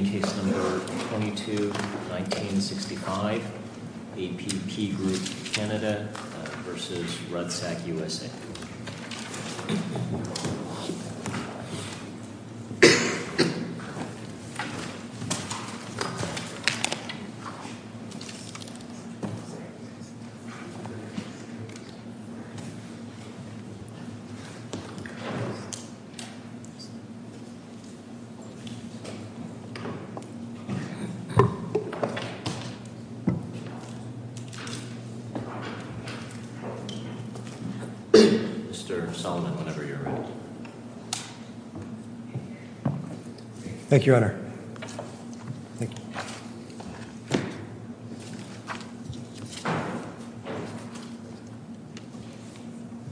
Case No. 22-1965 APP Group Canada v. Rudsak USA Inc. Mr. Solomon, whenever you're ready.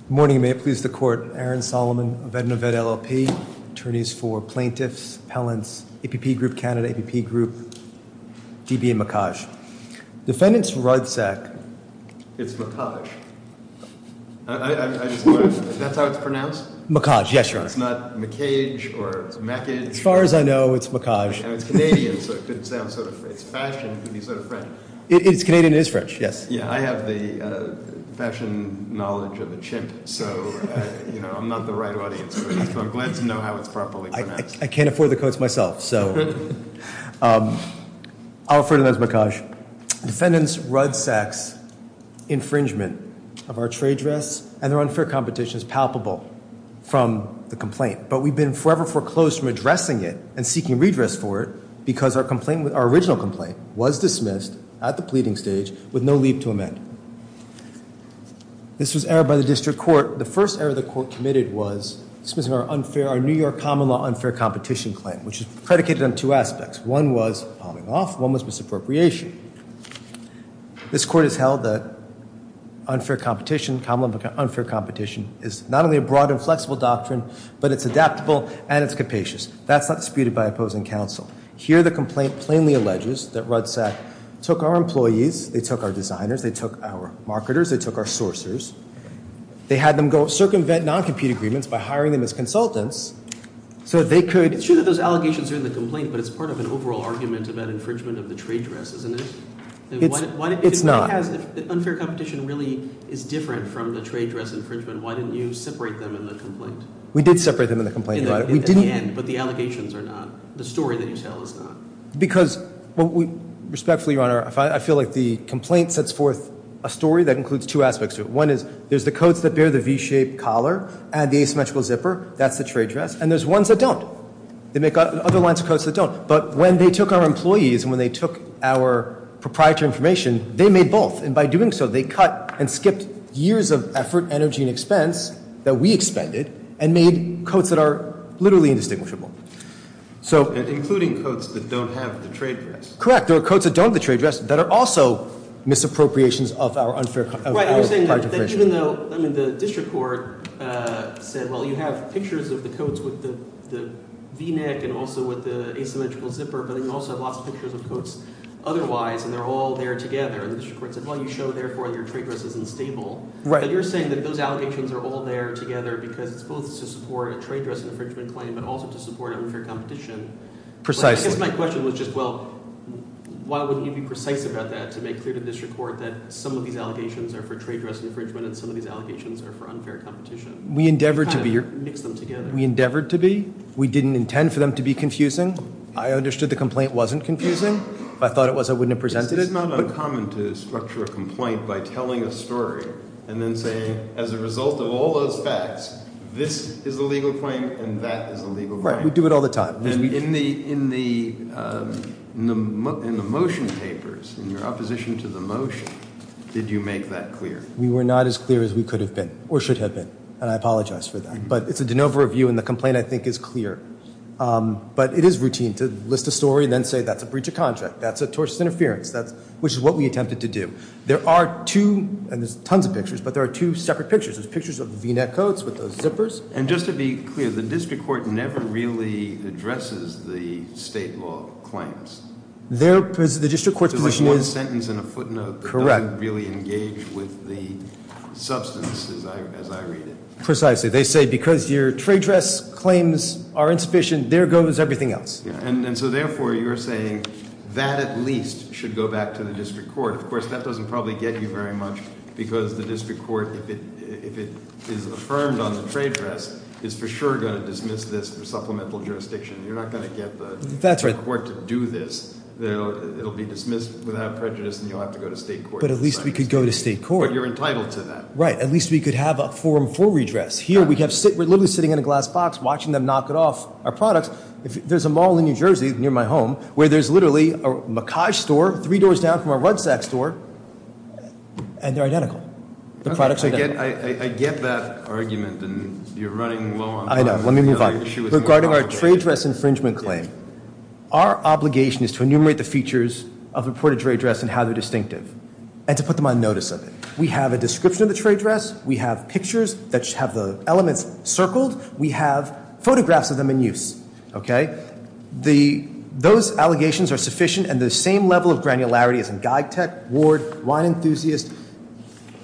Morning, may it please the Court. Aaron Solomon, Avedna Ved LLP, Attorneys for Plaintiffs, Appellants, APP Group Canada, APP Group, DB and McHaj. Defendants Rudsak. It's McHaj. That's how it's pronounced? McHaj, yes, Your Honor. It's not McHage or McHage? As far as I know it's McHaj. And it's Canadian, so it could sound sort of, it's fashion, it could be sort of French. It's Canadian and it's French, yes. Yeah, I have the fashion knowledge of a chimp, so, you know, I'm not the right audience for it. So I'm glad to know how it's properly pronounced. I can't afford the coats myself, so. I'll refer to them as McHaj. Defendants Rudsak's infringement of our trade dress and their unfair competition is palpable from the complaint. But we've been forever foreclosed from addressing it and seeking redress for it because our complaint, our original complaint was dismissed at the pleading stage with no leave to amend. This was errored by the district court. The first error the court committed was dismissing our unfair, our New York common law unfair competition claim, which is predicated on two aspects. One was palming off. One was misappropriation. This court has held that unfair competition, common law unfair competition, is not only a broad and flexible doctrine, but it's adaptable and it's capacious. That's not disputed by opposing counsel. Here the complaint plainly alleges that Rudsak took our employees, they took our designers, they took our marketers, they took our sourcers. They had them go circumvent non-compete agreements by hiring them as consultants so they could. It's true that those allegations are in the complaint, but it's part of an overall argument about infringement of the trade dress, isn't it? It's not. If unfair competition really is different from the trade dress infringement, why didn't you separate them in the complaint? We did separate them in the complaint. In the end, but the allegations are not. The story that you tell is not. Because, respectfully, Your Honor, I feel like the complaint sets forth a story that includes two aspects to it. One is there's the coats that bear the V-shaped collar and the asymmetrical zipper. That's the trade dress. And there's ones that don't. They make other lines of coats that don't. But when they took our employees and when they took our proprietary information, they made both. And by doing so, they cut and skipped years of effort, energy, and expense that we expended and made coats that are literally indistinguishable. Including coats that don't have the trade dress? Correct. There are coats that don't have the trade dress that are also misappropriations of our unfair competition. The district court said, well, you have pictures of the coats with the V-neck and also with the asymmetrical zipper, but you also have lots of pictures of coats otherwise, and they're all there together. And the district court said, well, you show, therefore, your trade dress is unstable. But you're saying that those allegations are all there together because it's both to support a trade dress infringement claim but also to support unfair competition. Precisely. I guess my question was just, well, why wouldn't you be precise about that to make clear to district court that some of these allegations are for trade dress infringement and some of these allegations are for unfair competition? We endeavored to be. We kind of mixed them together. We endeavored to be. We didn't intend for them to be confusing. I understood the complaint wasn't confusing. If I thought it was, I wouldn't have presented it. It's not uncommon to structure a complaint by telling a story and then saying, as a result of all those facts, this is a legal claim and that is a legal claim. Right, we do it all the time. In the motion papers, in your opposition to the motion, did you make that clear? We were not as clear as we could have been or should have been, and I apologize for that. But it's a de novo review and the complaint, I think, is clear. But it is routine to list a story and then say that's a breach of contract, that's a tortious interference, which is what we attempted to do. There are two, and there's tons of pictures, but there are two separate pictures. And just to be clear, the district court never really addresses the state law claims. The district court's position is- There's like one sentence and a footnote that doesn't really engage with the substance as I read it. Precisely. They say because your trade dress claims are insufficient, there goes everything else. And so therefore, you're saying that at least should go back to the district court. Of course, that doesn't probably get you very much because the district court, if it is affirmed on the trade dress, is for sure going to dismiss this for supplemental jurisdiction. You're not going to get the court to do this. It'll be dismissed without prejudice and you'll have to go to state court. But at least we could go to state court. But you're entitled to that. Right, at least we could have a forum for redress. Here, we're literally sitting in a glass box watching them knock it off our products. There's a mall in New Jersey near my home where there's literally a macaj store three doors down from a rucksack store, and they're identical. The products are identical. I get that argument, and you're running low on- I know. Let me move on. Regarding our trade dress infringement claim, our obligation is to enumerate the features of reported trade dress and how they're distinctive, and to put them on notice of it. We have a description of the trade dress. We have pictures that have the elements circled. We have photographs of them in use. Okay? Those allegations are sufficient, and the same level of granularity as in Geigtech, Ward, Wine Enthusiast,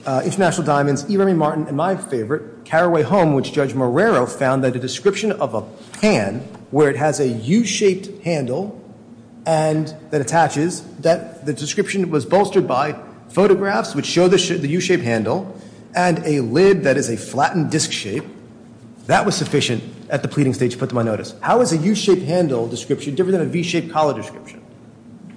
International Diamonds, E. Remy Martin, and my favorite, Carraway Home, which Judge Marrero found that a description of a pan where it has a U-shaped handle that attaches, that the description was bolstered by photographs which show the U-shaped handle and a lid that is a flattened disc shape, that was sufficient at the pleading stage to put them on notice. How is a U-shaped handle description different than a V-shaped collar description?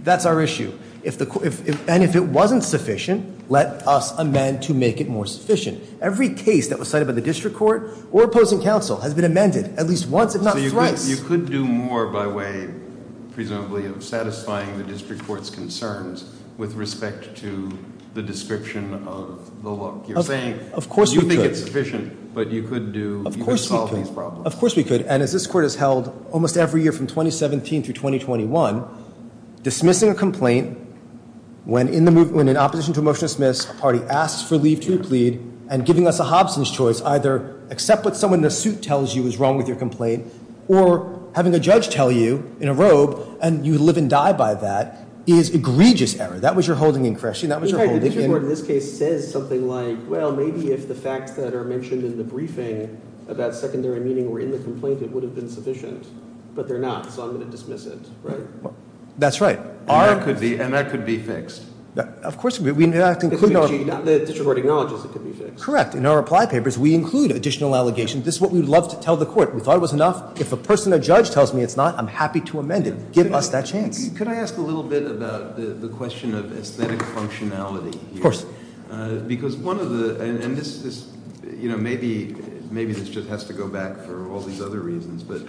That's our issue. And if it wasn't sufficient, let us amend to make it more sufficient. Every case that was cited by the district court or opposing counsel has been amended at least once, if not thrice. So you could do more by way, presumably, of satisfying the district court's concerns with respect to the description of the look you're saying. Of course we could. You think it's sufficient, but you could do, you could solve these problems. Of course we could, and as this court has held almost every year from 2017 through 2021, dismissing a complaint when in opposition to a motion to dismiss, a party asks for leave to replead, and giving us a Hobson's choice, either accept what someone in a suit tells you is wrong with your complaint, or having a judge tell you in a robe, and you live and die by that, is egregious error. That was your holding in question. The district court in this case says something like, well, maybe if the facts that are mentioned in the briefing about secondary meaning were in the complaint, it would have been sufficient. But they're not, so I'm going to dismiss it, right? That's right. And that could be fixed. Of course. The district court acknowledges it could be fixed. Correct. In our reply papers, we include additional allegations. This is what we would love to tell the court. We thought it was enough. If a person, a judge tells me it's not, I'm happy to amend it. Give us that chance. Could I ask a little bit about the question of aesthetic functionality here? Of course. Because one of the, and this, you know, maybe this just has to go back for all these other reasons, but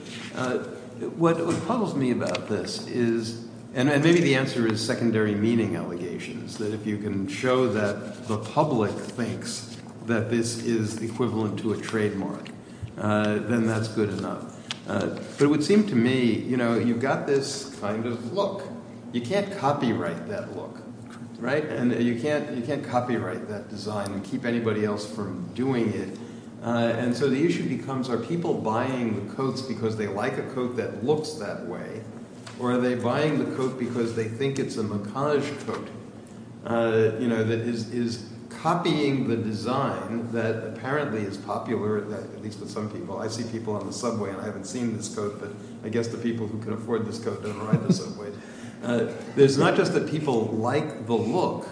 what puzzles me about this is, and maybe the answer is secondary meaning allegations, that if you can show that the public thinks that this is equivalent to a trademark, then that's good enough. But it would seem to me, you know, you've got this kind of look. You can't copyright that look, right? And you can't copyright that design and keep anybody else from doing it. And so the issue becomes, are people buying the coats because they like a coat that looks that way, or are they buying the coat because they think it's a macage coat, you know, that is copying the design that apparently is popular, at least with some people. I see people on the subway and I haven't seen this coat, but I guess the people who can afford this coat don't ride the subway. It's not just that people like the look,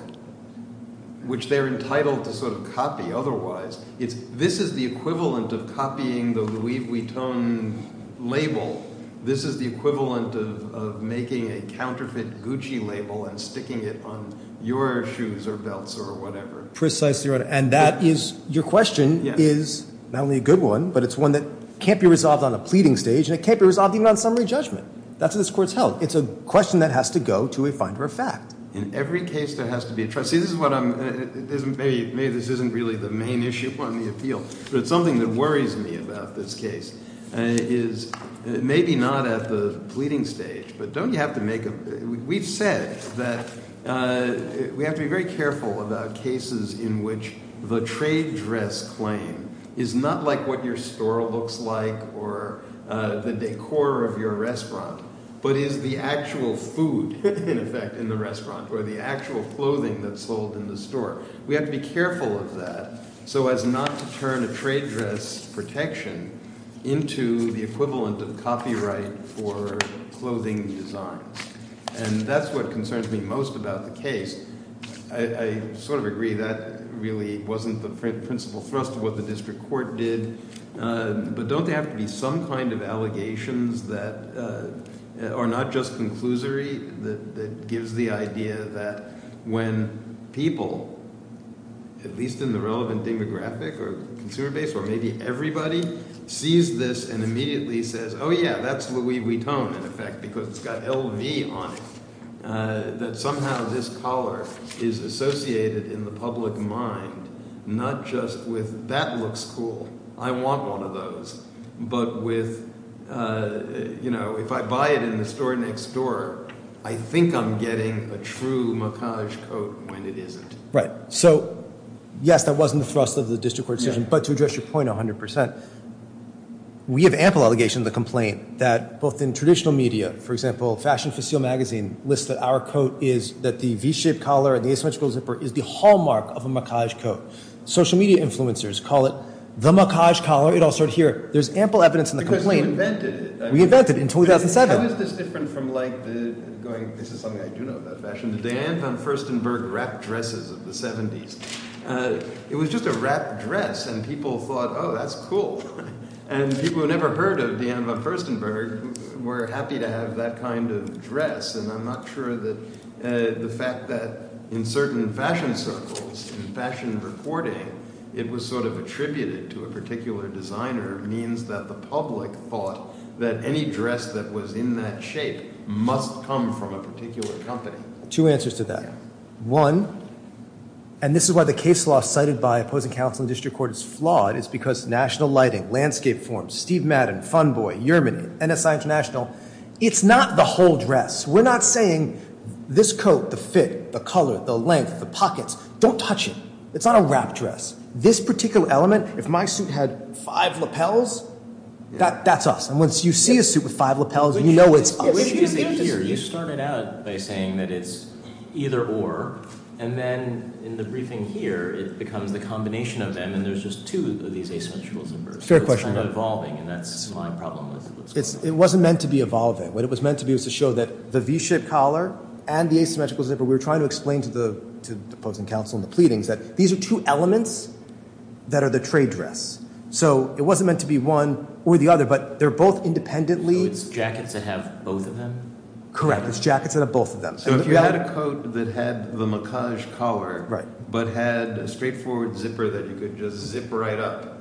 which they're entitled to sort of copy otherwise. This is the equivalent of copying the Louis Vuitton label. This is the equivalent of making a counterfeit Gucci label and sticking it on your shoes or belts or whatever. Precisely right. And that is, your question is not only a good one, but it's one that can't be resolved on a pleading stage and it can't be resolved even on summary judgment. That's what this Court's held. It's a question that has to go to a finder of fact. In every case there has to be a trustee. Maybe this isn't really the main issue on the appeal, but it's something that worries me about this case. Maybe not at the pleading stage, but don't you have to make a... We've said that we have to be very careful about cases in which the trade dress claim is not like what your store looks like or the decor of your restaurant, but is the actual food, in effect, in the restaurant or the actual clothing that's sold in the store. We have to be careful of that so as not to turn a trade dress protection into the equivalent of copyright for clothing designs. And that's what concerns me most about the case. I sort of agree that really wasn't the principal thrust of what the District Court did, but don't there have to be some kind of allegations that are not just conclusory that gives the idea that when people, at least in the relevant demographic or consumer base or maybe everybody, sees this and immediately says, oh yeah, that's Louis Vuitton, in effect, because it's got LV on it, that somehow this collar is associated in the public mind not just with, that looks cool, I want one of those, but with, you know, if I buy it in the store next door, I think I'm getting a true macage coat when it isn't. Right. So, yes, that wasn't the thrust of the District Court decision, but to address your point 100%, we have ample allegations of the complaint that both in traditional media, for example, lists that our coat is, that the V-shaped collar and the asymmetrical zipper is the hallmark of a macage coat. Social media influencers call it the macage collar. It all started here. There's ample evidence in the complaint. Because you invented it. We invented it in 2007. How is this different from, like, going, this is something I do know about fashion, the Diane von Furstenberg wrap dresses of the 70s. It was just a wrap dress and people thought, oh, that's cool. And people who never heard of Diane von Furstenberg were happy to have that kind of dress. And I'm not sure that the fact that in certain fashion circles, in fashion reporting, it was sort of attributed to a particular designer means that the public thought that any dress that was in that shape must come from a particular company. Two answers to that. One, and this is why the case law cited by opposing counsel in the District Court is flawed, is because national lighting, landscape form, Steve Madden, Fun Boy, Yerman, NSI International, it's not the whole dress. We're not saying this coat, the fit, the color, the length, the pockets, don't touch it. It's not a wrap dress. This particular element, if my suit had five lapels, that's us. And once you see a suit with five lapels, you know it's us. You started out by saying that it's either or. And then in the briefing here, it becomes the combination of them. And there's just two of these asymmetrical zippers. Fair question. It's kind of evolving, and that's my problem. It wasn't meant to be evolving. What it was meant to be was to show that the V-shaped collar and the asymmetrical zipper, we were trying to explain to the opposing counsel in the pleadings that these are two elements that are the trade dress. So it wasn't meant to be one or the other, but they're both independently. So it's jackets that have both of them? Correct. It's jackets that have both of them. So if you had a coat that had the macage collar but had a straightforward zipper that you could just zip right up,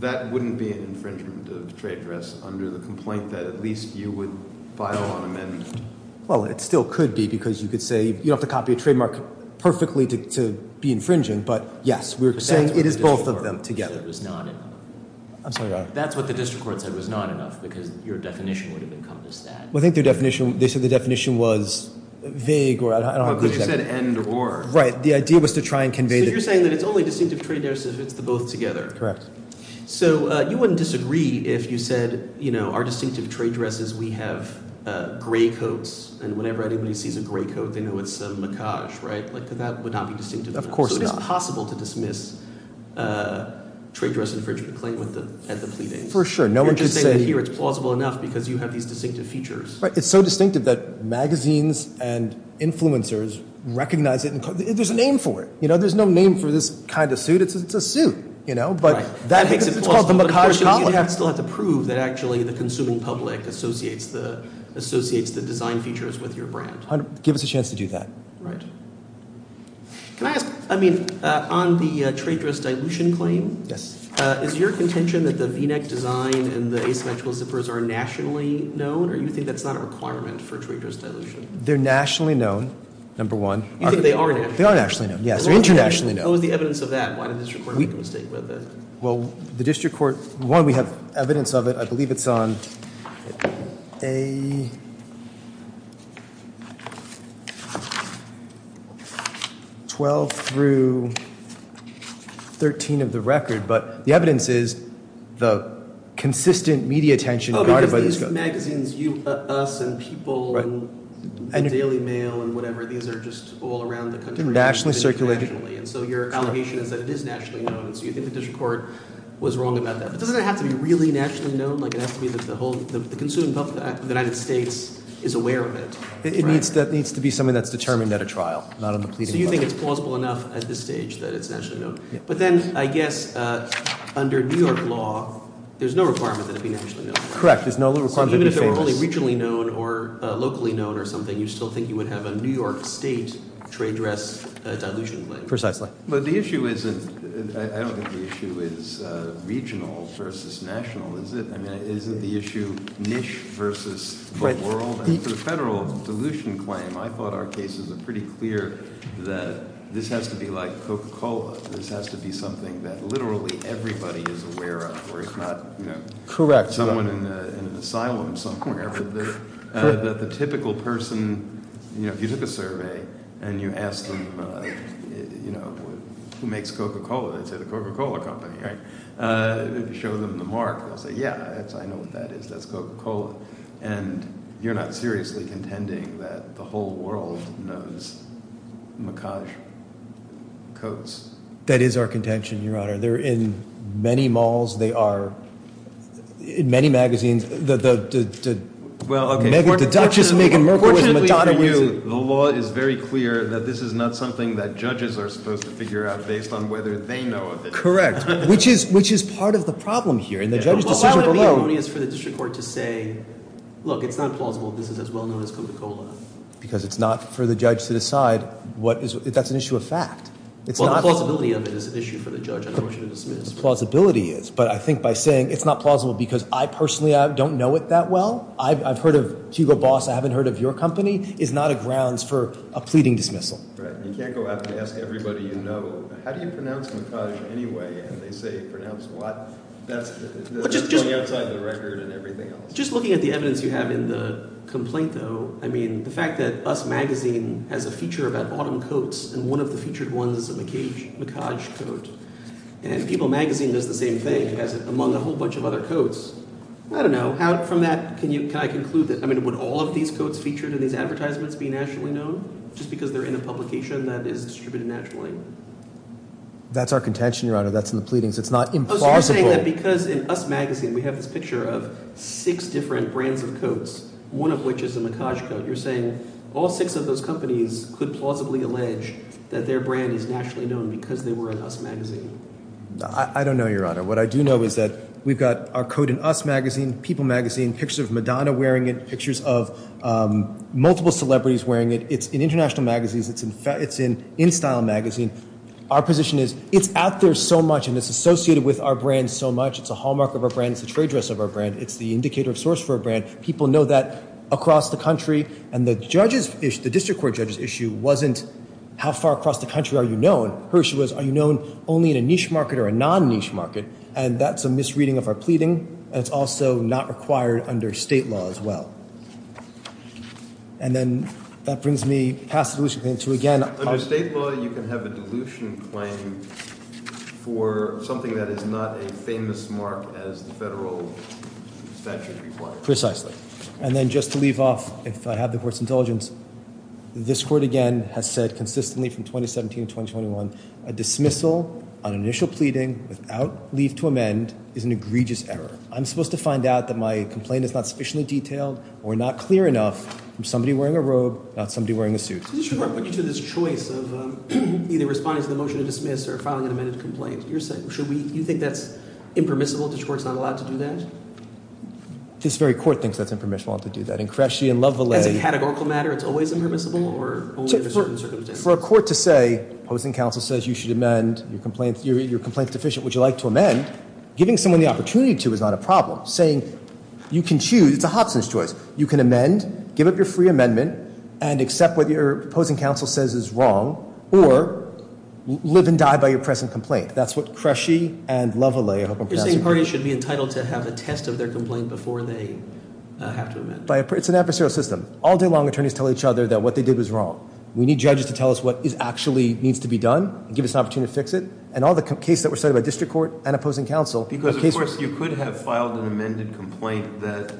that wouldn't be an infringement of the trade dress under the complaint that at least you would file an amendment? Well, it still could be because you could say you don't have to copy a trademark perfectly to be infringing. But, yes, we're saying it is both of them together. That's what the district court said was not enough because your definition would have encompassed that. Well, I think their definition, they said the definition was vague or I don't know. Because you said and or. Right. The idea was to try and convey that. So you're saying that it's only distinctive trade dresses if it's the both together. Correct. So you wouldn't disagree if you said our distinctive trade dresses, we have gray coats, and whenever anybody sees a gray coat, they know it's a macage, right? That would not be distinctive. Of course not. So it is possible to dismiss trade dress infringement claim at the pleadings. For sure. You're just saying that here it's plausible enough because you have these distinctive features. It's so distinctive that magazines and influencers recognize it. There's a name for it. There's no name for this kind of suit. It's a suit. Right. That makes it plausible. But the question is you still have to prove that actually the consuming public associates the design features with your brand. Give us a chance to do that. Right. Can I ask, I mean, on the trade dress dilution claim. Yes. Is your contention that the V-neck design and the asymmetrical zippers are nationally known, or do you think that's not a requirement for trade dress dilution? They're nationally known, number one. You think they are nationally known? They are nationally known, yes. They're internationally known. What was the evidence of that? Why did the district court make a mistake with it? Well, the district court, one, we have evidence of it. I believe it's on A12 through 13 of the record. But the evidence is the consistent media attention. Oh, because these magazines, Us and People and Daily Mail and whatever, these are just all around the country. They're nationally circulated. And so your allegation is that it is nationally known, and so you think the district court was wrong about that. But doesn't it have to be really nationally known? Like, it has to be that the consuming public of the United States is aware of it. That needs to be something that's determined at a trial, not on the pleading body. So you think it's plausible enough at this stage that it's nationally known. But then, I guess, under New York law, there's no requirement that it be nationally known. Correct. There's no requirement to be famous. So even if it were only regionally known or locally known or something, then you still think you would have a New York State trade dress dilution claim. Precisely. But the issue isn't, I don't think the issue is regional versus national, is it? I mean, isn't the issue niche versus the world? And for the federal dilution claim, I thought our cases were pretty clear that this has to be like Coca-Cola. This has to be something that literally everybody is aware of, or if not, you know, someone in an asylum somewhere. But the typical person, you know, if you took a survey and you asked them, you know, who makes Coca-Cola, they'd say the Coca-Cola company, right? If you show them the mark, they'll say, yeah, I know what that is. That's Coca-Cola. And you're not seriously contending that the whole world knows macaj codes. That is our contention, Your Honor. They're in many malls. They are in many magazines. The mega-deductious Meghan Markle is Madonna. Fortunately for you, the law is very clear that this is not something that judges are supposed to figure out based on whether they know of it. Correct, which is part of the problem here. In the judge's decision below. Well, how would it be erroneous for the district court to say, look, it's not plausible. This is as well-known as Coca-Cola? Because it's not for the judge to decide. That's an issue of fact. Well, the plausibility of it is an issue for the judge. I don't want you to dismiss. The plausibility is. But I think by saying it's not plausible because I personally don't know it that well, I've heard of Hugo Boss. I haven't heard of your company, is not a grounds for a pleading dismissal. Right. You can't go out and ask everybody you know, how do you pronounce macaj anyway? And they say pronounce what? That's going outside the record and everything else. Just looking at the evidence you have in the complaint, though, I mean, the fact that Us Magazine has a feature about autumn coats, and one of the featured ones is a macaj coat. And People Magazine does the same thing as among a whole bunch of other coats. I don't know. How from that can I conclude that? I mean, would all of these coats featured in these advertisements be nationally known just because they're in a publication that is distributed nationally? That's our contention, Your Honor. That's in the pleadings. It's not implausible. Oh, so you're saying that because in Us Magazine we have this picture of six different brands of coats, one of which is a macaj coat. You're saying all six of those companies could plausibly allege that their brand is nationally known because they were in Us Magazine. I don't know, Your Honor. What I do know is that we've got our coat in Us Magazine, People Magazine, pictures of Madonna wearing it, pictures of multiple celebrities wearing it. It's in international magazines. It's in InStyle Magazine. Our position is it's out there so much, and it's associated with our brand so much. It's a hallmark of our brand. It's a trade dress of our brand. It's the indicator of source for our brand. People know that across the country, and the district court judge's issue wasn't how far across the country are you known. Her issue was are you known only in a niche market or a non-niche market, and that's a misreading of our pleading, and it's also not required under state law as well. And then that brings me past the dilution claim to, again— Under state law, you can have a dilution claim for something that is not a famous mark as the federal statute requires. Precisely. And then just to leave off, if I have the court's indulgence, this court, again, has said consistently from 2017 to 2021 a dismissal on initial pleading without leave to amend is an egregious error. I'm supposed to find out that my complaint is not sufficiently detailed or not clear enough from somebody wearing a robe, not somebody wearing a suit. The district court put you to this choice of either responding to the motion to dismiss or filing an amended complaint. Do you think that's impermissible? The district court's not allowed to do that? This very court thinks that's impermissible to do that. And Cresci and Lovelay— As a categorical matter, it's always impermissible or only under certain circumstances? For a court to say opposing counsel says you should amend, your complaint's deficient, would you like to amend, giving someone the opportunity to is not a problem. Saying you can choose—it's a Hobson's choice. You can amend, give up your free amendment, and accept what your opposing counsel says is wrong, or live and die by your present complaint. That's what Cresci and Lovelay— You're saying parties should be entitled to have a test of their complaint before they have to amend? It's an adversarial system. All day long, attorneys tell each other that what they did was wrong. We need judges to tell us what actually needs to be done and give us an opportunity to fix it. And all the cases that were cited by district court and opposing counsel— Because, of course, you could have filed an amended complaint that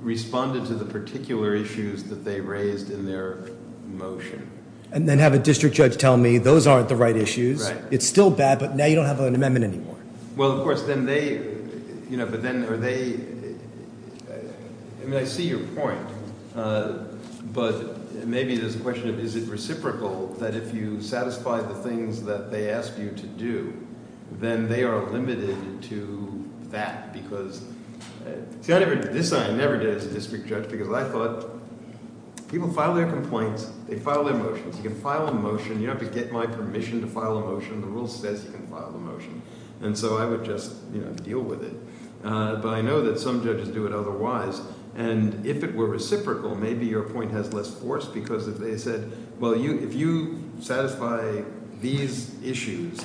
responded to the particular issues that they raised in their motion. And then have a district judge tell me those aren't the right issues. Right. It's still bad, but now you don't have an amendment anymore. Well, of course, then they—you know, but then are they—I mean, I see your point. But maybe there's a question of is it reciprocal that if you satisfy the things that they ask you to do, then they are limited to that because— See, I never—this I never did as a district judge because I thought people file their complaints. They file their motions. You can file a motion. You don't have to get my permission to file a motion. The rule says you can file a motion. And so I would just deal with it. But I know that some judges do it otherwise. And if it were reciprocal, maybe your point has less force because if they said, well, if you satisfy these issues,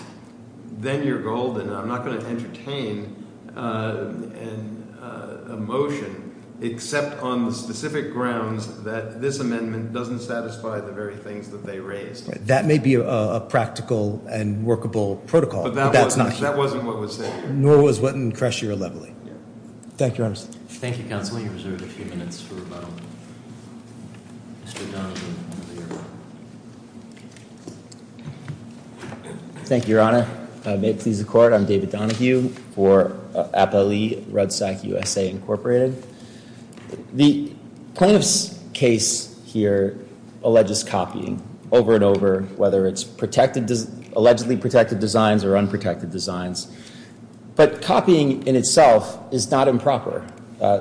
then you're golden. I'm not going to entertain a motion except on the specific grounds that this amendment doesn't satisfy the very things that they raised. That may be a practical and workable protocol. But that's not— That wasn't what was said. Nor was what in Kreshe or Leveley. Thank you, Your Honor. Thank you, Counsel. You're reserved a few minutes for Mr. Donahue. Thank you, Your Honor. May it please the Court, I'm David Donahue for APALE, RUDSAC USA, Incorporated. The plaintiff's case here alleges copying over and over, whether it's allegedly protected designs or unprotected designs. But copying in itself is not improper,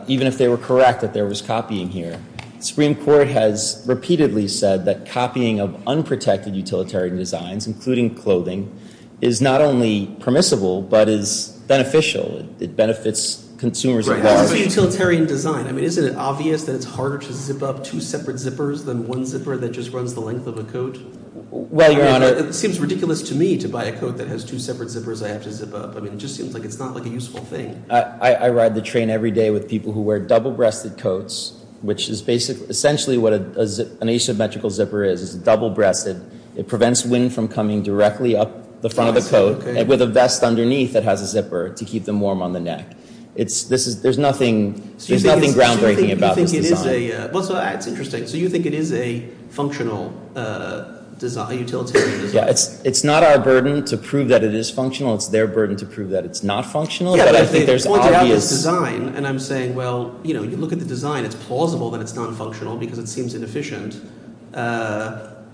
even if they were correct that there was copying here. Supreme Court has repeatedly said that copying of unprotected utilitarian designs, including clothing, is not only permissible but is beneficial. It benefits consumers at large. What is a utilitarian design? I mean, isn't it obvious that it's harder to zip up two separate zippers than one zipper that just runs the length of a coat? Well, Your Honor— It seems ridiculous to me to buy a coat that has two separate zippers I have to zip up. I mean, it just seems like it's not, like, a useful thing. I ride the train every day with people who wear double-breasted coats, which is basically—essentially what an asymmetrical zipper is. It's double-breasted. It prevents wind from coming directly up the front of the coat. With a vest underneath that has a zipper to keep them warm on the neck. There's nothing groundbreaking about this design. Well, so that's interesting. So you think it is a functional design, a utilitarian design? Yeah. It's not our burden to prove that it is functional. It's their burden to prove that it's not functional. Yeah, but I think the point about this design— And I'm saying, well, you know, you look at the design. It's plausible that it's not functional because it seems inefficient.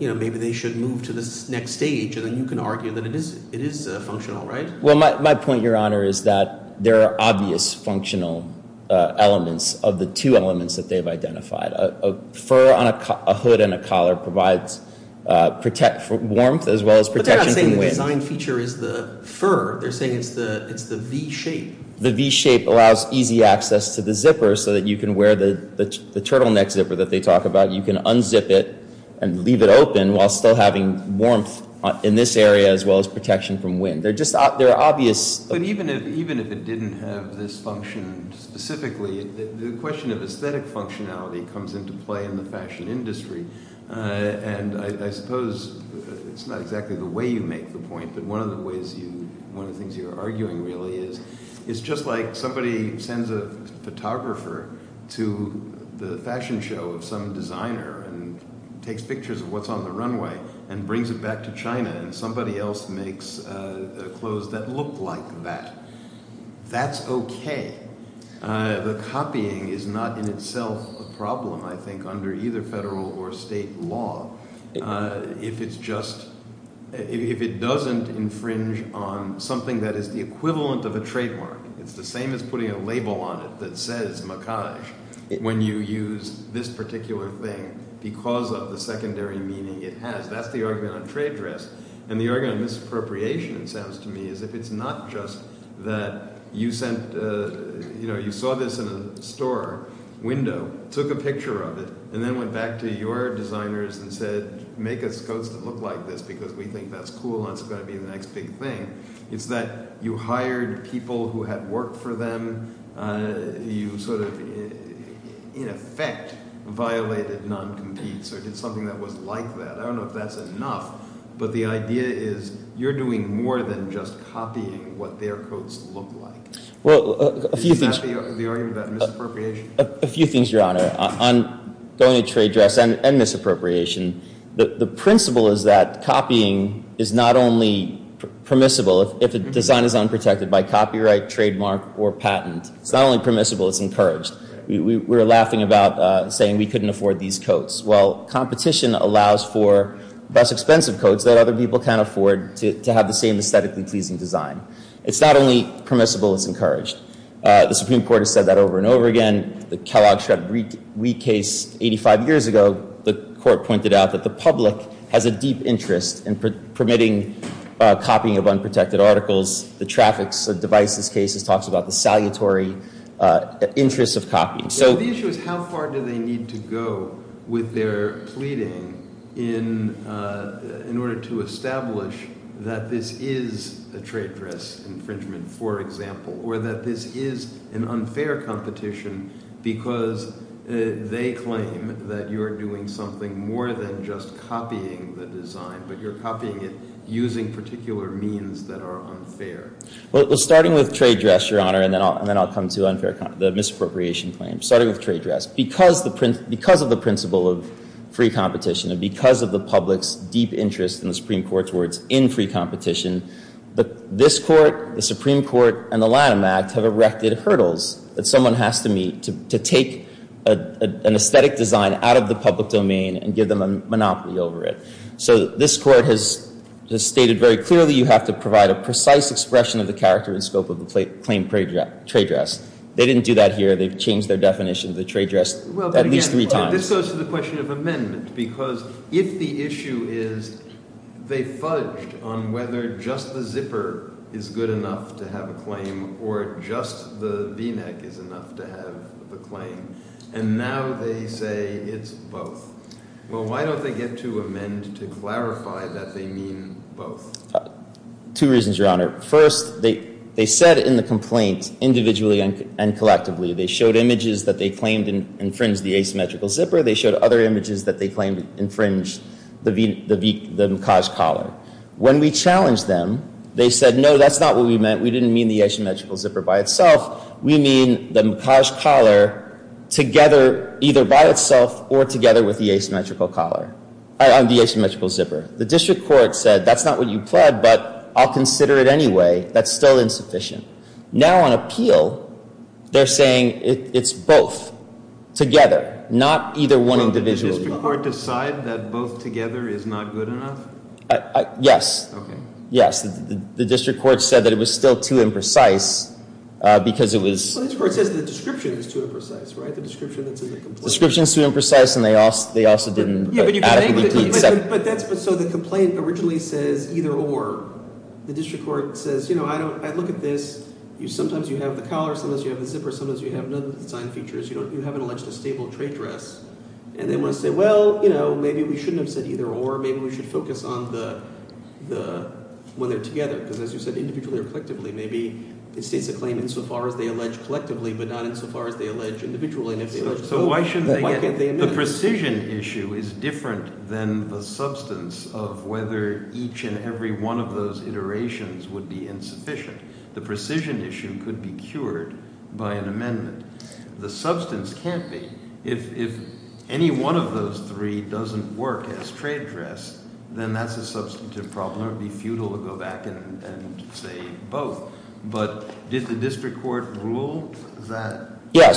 You know, maybe they should move to this next stage, and then you can argue that it is functional, right? Well, my point, Your Honor, is that there are obvious functional elements of the two elements that they've identified. A fur on a hood and a collar provides warmth as well as protection from wind. But they're not saying the design feature is the fur. They're saying it's the V-shape. The V-shape allows easy access to the zipper so that you can wear the turtleneck zipper that they talk about. You can unzip it and leave it open while still having warmth in this area as well as protection from wind. They're just—they're obvious— But even if it didn't have this function specifically, the question of aesthetic functionality comes into play in the fashion industry. And I suppose it's not exactly the way you make the point, but one of the ways you—one of the things you're arguing really is it's just like somebody sends a photographer to the fashion show of some designer and takes pictures of what's on the runway and brings it back to China and somebody else makes clothes that look like that. That's okay. The copying is not in itself a problem, I think, under either federal or state law. If it's just—if it doesn't infringe on something that is the equivalent of a trademark. It's the same as putting a label on it that says macage when you use this particular thing because of the secondary meaning it has. That's the argument on trade dress. And the argument on misappropriation, it sounds to me, is if it's not just that you sent—you saw this in a store window, took a picture of it, and then went back to your designers and said, make us clothes that look like this because we think that's cool and that's going to be the next big thing. It's that you hired people who had worked for them. You sort of, in effect, violated non-competes or did something that was like that. I don't know if that's enough, but the idea is you're doing more than just copying what their clothes look like. Well, a few things— Is that the argument about misappropriation? A few things, Your Honor. On going to trade dress and misappropriation, the principle is that copying is not only permissible if a design is unprotected by copyright, trademark, or patent. It's not only permissible, it's encouraged. We were laughing about saying we couldn't afford these coats. Well, competition allows for less expensive coats that other people can't afford to have the same aesthetically pleasing design. It's not only permissible, it's encouraged. The Supreme Court has said that over and over again. The Kellogg-Shredd-Wheat case 85 years ago, the court pointed out that the public has a deep interest in permitting copying of unprotected articles. The traffic devices case talks about the salutary interest of copying. So the issue is how far do they need to go with their pleading in order to establish that this is a trade dress infringement, for example, or that this is an unfair competition because they claim that you're doing something more than just copying the design, but you're copying it using particular means that are unfair. Well, starting with trade dress, Your Honor, and then I'll come to the misappropriation claim. Starting with trade dress. Because of the principle of free competition and because of the public's deep interest, in the Supreme Court's words, in free competition, this Court, the Supreme Court, and the Lanham Act have erected hurdles that someone has to meet to take an aesthetic design out of the public domain and give them a monopoly over it. So this Court has stated very clearly you have to provide a precise expression of the character and scope of the claim trade dress. They didn't do that here. They've changed their definition of the trade dress at least three times. This goes to the question of amendment because if the issue is they fudged on whether just the zipper is good enough to have a claim or just the v-neck is enough to have the claim, and now they say it's both. Well, why don't they get to amend to clarify that they mean both? Two reasons, Your Honor. First, they said in the complaint, individually and collectively, they showed images that they claimed infringed the asymmetrical zipper. They showed other images that they claimed infringed the macage collar. When we challenged them, they said, no, that's not what we meant. We didn't mean the asymmetrical zipper by itself. We mean the macage collar together either by itself or together with the asymmetrical collar, the asymmetrical zipper. The district court said that's not what you pled, but I'll consider it anyway. That's still insufficient. Now on appeal, they're saying it's both together, not either one individually. Did the district court decide that both together is not good enough? Yes. Okay. Yes. The district court said that it was still too imprecise because it was. Well, the district court says the description is too imprecise, right? The description that's in the complaint. The description is too imprecise, and they also didn't adequately plead second. But that's – so the complaint originally says either or. The district court says I look at this. Sometimes you have the collar. Sometimes you have the zipper. Sometimes you have none of the design features. You haven't alleged a stable trade dress. And they want to say, well, maybe we shouldn't have said either or. Maybe we should focus on the – when they're together because as you said, individually or collectively, maybe it states a claim insofar as they allege collectively but not insofar as they allege individually. So why should they – the precision issue is different than the substance of whether each and every one of those iterations would be insufficient. The precision issue could be cured by an amendment. The substance can't be. If any one of those three doesn't work as trade dress, then that's a substantive problem. It would be futile to go back and say both. Is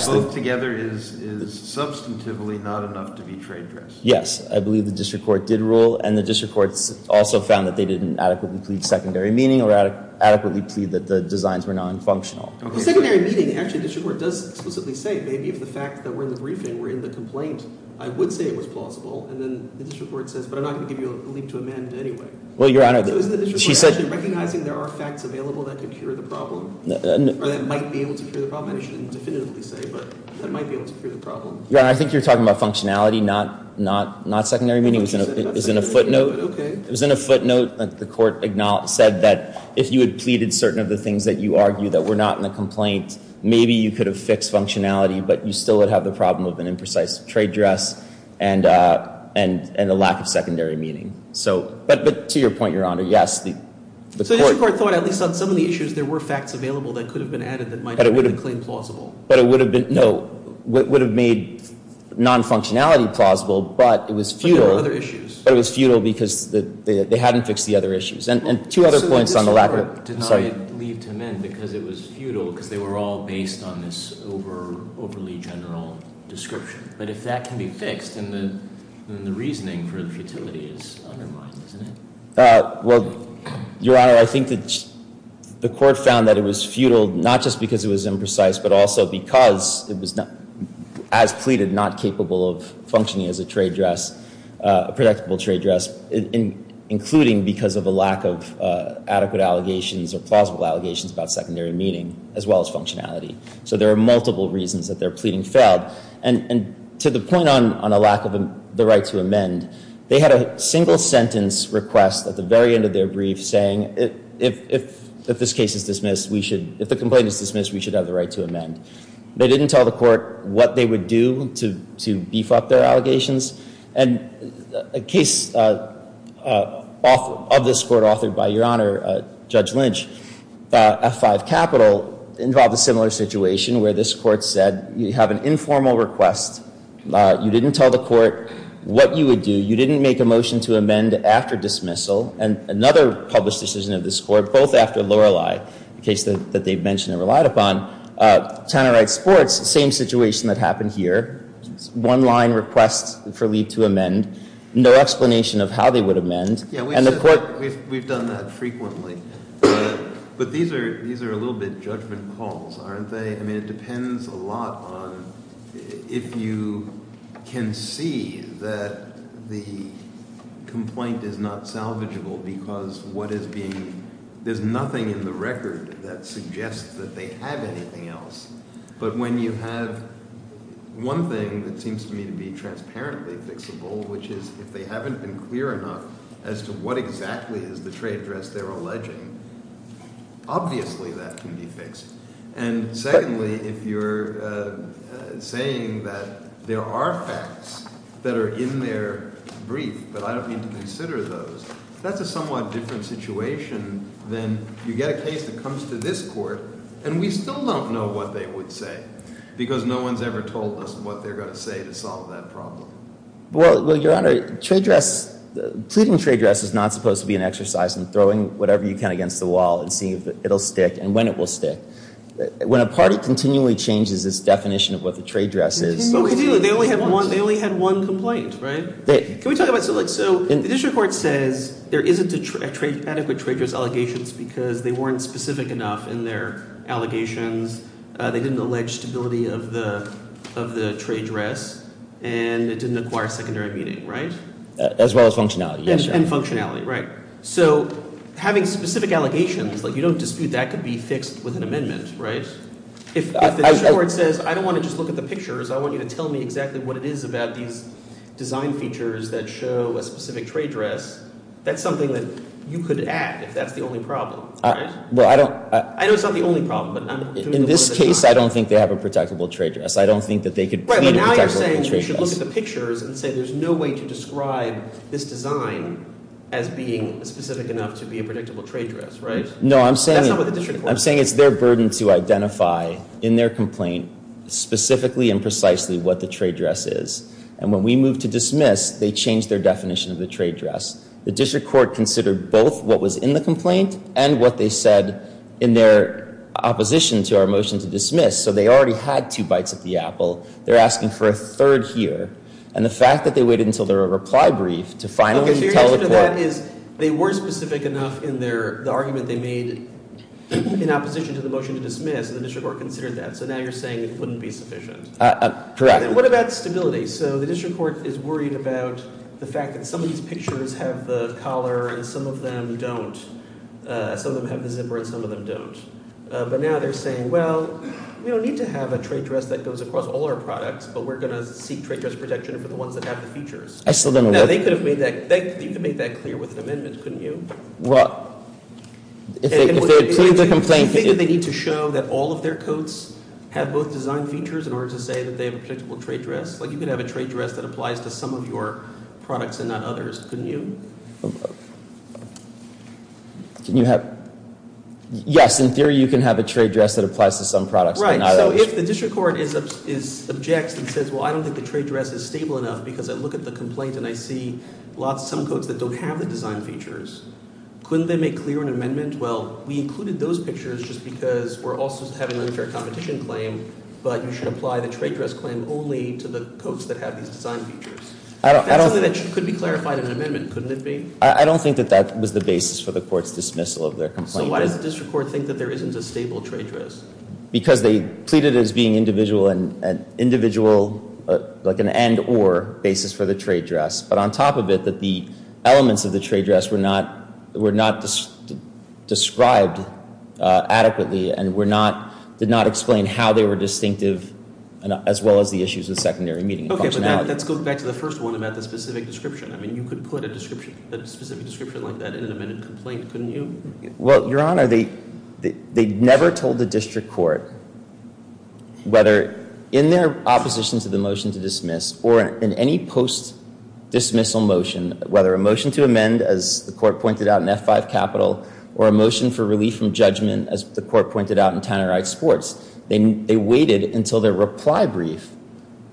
substantively not enough to be trade dress? Yes. I believe the district court did rule, and the district court also found that they didn't adequately plead secondary meaning or adequately plead that the designs were nonfunctional. Well, secondary meaning, actually the district court does explicitly say maybe if the fact that we're in the briefing, we're in the complaint, I would say it was plausible. And then the district court says, but I'm not going to give you a leap to amend anyway. Well, Your Honor, she said – So isn't the district court actually recognizing there are facts available that could cure the problem? Or that might be able to cure the problem? I shouldn't definitively say, but that might be able to cure the problem. Your Honor, I think you're talking about functionality, not secondary meaning. It was in a footnote. Okay. It was in a footnote that the court said that if you had pleaded certain of the things that you argue that were not in the complaint, maybe you could have fixed functionality, but you still would have the problem of an imprecise trade dress and the lack of secondary meaning. But to your point, Your Honor, yes, the court – So the district court thought at least on some of the issues, there were facts available that could have been added that might have made the claim plausible. But it would have been – no. It would have made non-functionality plausible, but it was futile. But there were other issues. But it was futile because they hadn't fixed the other issues. And two other points on the lack of – So the district court denied leap to amend because it was futile because they were all based on this overly general description. But if that can be fixed, then the reasoning for the futility is undermined, isn't it? Well, Your Honor, I think that the court found that it was futile not just because it was imprecise, but also because it was, as pleaded, not capable of functioning as a trade dress, a predictable trade dress, including because of a lack of adequate allegations or plausible allegations about secondary meaning as well as functionality. So there are multiple reasons that their pleading failed. And to the point on a lack of the right to amend, they had a single sentence request at the very end of their brief saying, if this case is dismissed, we should – if the complaint is dismissed, we should have the right to amend. They didn't tell the court what they would do to beef up their allegations. And a case of this court authored by Your Honor, Judge Lynch, F5 Capital, involved a similar situation where this court said you have an informal request. You didn't tell the court what you would do. You didn't make a motion to amend after dismissal. And another published decision of this court, both after Lorelei, a case that they mentioned and relied upon, Tannerite Sports, same situation that happened here, one line request for leave to amend, no explanation of how they would amend. We've done that frequently. But these are a little bit judgment calls, aren't they? I mean, it depends a lot on if you can see that the complaint is not salvageable because what is being – there's nothing in the record that suggests that they have anything else. But when you have one thing that seems to me to be transparently fixable, which is if they haven't been clear enough as to what exactly is the trade address they're alleging, obviously that can be fixed. And secondly, if you're saying that there are facts that are in their brief but I don't need to consider those, that's a somewhat different situation than you get a case that comes to this court and we still don't know what they would say because no one has ever told us what they're going to say to solve that problem. Well, Your Honor, trade address – pleading trade address is not supposed to be an exercise in throwing whatever you can against the wall and seeing if it will stick and when it will stick. When a party continually changes its definition of what the trade address is – They only had one complaint, right? Can we talk about – so the district court says there isn't adequate trade address allegations because they weren't specific enough in their allegations. They didn't allege stability of the trade address, and it didn't acquire secondary meaning, right? As well as functionality, yes, Your Honor. And functionality, right. So having specific allegations, like you don't dispute that could be fixed with an amendment, right? If the district court says, I don't want to just look at the pictures, I want you to tell me exactly what it is about these design features that show a specific trade address, that's something that you could add if that's the only problem, right? Well, I don't – I know it's not the only problem, but I'm doing the work that I'm – In this case, I don't think they have a predictable trade address. I don't think that they could plead a predictable trade address. Right, but now you're saying we should look at the pictures and say there's no way to describe this design as being specific enough to be a predictable trade address, right? No, I'm saying – That's not what the district court – I'm saying it's their burden to identify in their complaint specifically and precisely what the trade address is. And when we moved to dismiss, they changed their definition of the trade address. The district court considered both what was in the complaint and what they said in their opposition to our motion to dismiss. So they already had two bites at the apple. They're asking for a third here. And the fact that they waited until their reply brief to finally tell the court – In this case, they were specific enough in their – the argument they made in opposition to the motion to dismiss, and the district court considered that. So now you're saying it wouldn't be sufficient. Correct. And what about stability? So the district court is worried about the fact that some of these pictures have the collar and some of them don't. Some of them have the zipper and some of them don't. But now they're saying, well, we don't need to have a trade address that goes across all our products, but we're going to seek trade address protection for the ones that have the features. I still don't – No, they could have made that – you could have made that clear with an amendment, couldn't you? Well, if they had cleared the complaint – Do you think that they need to show that all of their coats have both design features in order to say that they have a predictable trade address? Like you could have a trade address that applies to some of your products and not others, couldn't you? Can you have – yes, in theory you can have a trade address that applies to some products but not others. So if the district court objects and says, well, I don't think the trade address is stable enough because I look at the complaint and I see some coats that don't have the design features, couldn't they make clear an amendment? Well, we included those pictures just because we're also having unfair competition claim, but you should apply the trade address claim only to the coats that have these design features. That's something that could be clarified in an amendment, couldn't it be? I don't think that that was the basis for the court's dismissal of their complaint. So why does the district court think that there isn't a stable trade address? Because they pleaded as being an individual – like an and-or basis for the trade address. But on top of it, that the elements of the trade address were not described adequately and were not – did not explain how they were distinctive as well as the issues of secondary meeting and functionality. Okay, but let's go back to the first one about the specific description. I mean you could put a description – a specific description like that in an amended complaint, couldn't you? Well, Your Honor, they never told the district court whether in their opposition to the motion to dismiss or in any post-dismissal motion, whether a motion to amend as the court pointed out in F-5 capital or a motion for relief from judgment as the court pointed out in Tannerite sports, they waited until their reply brief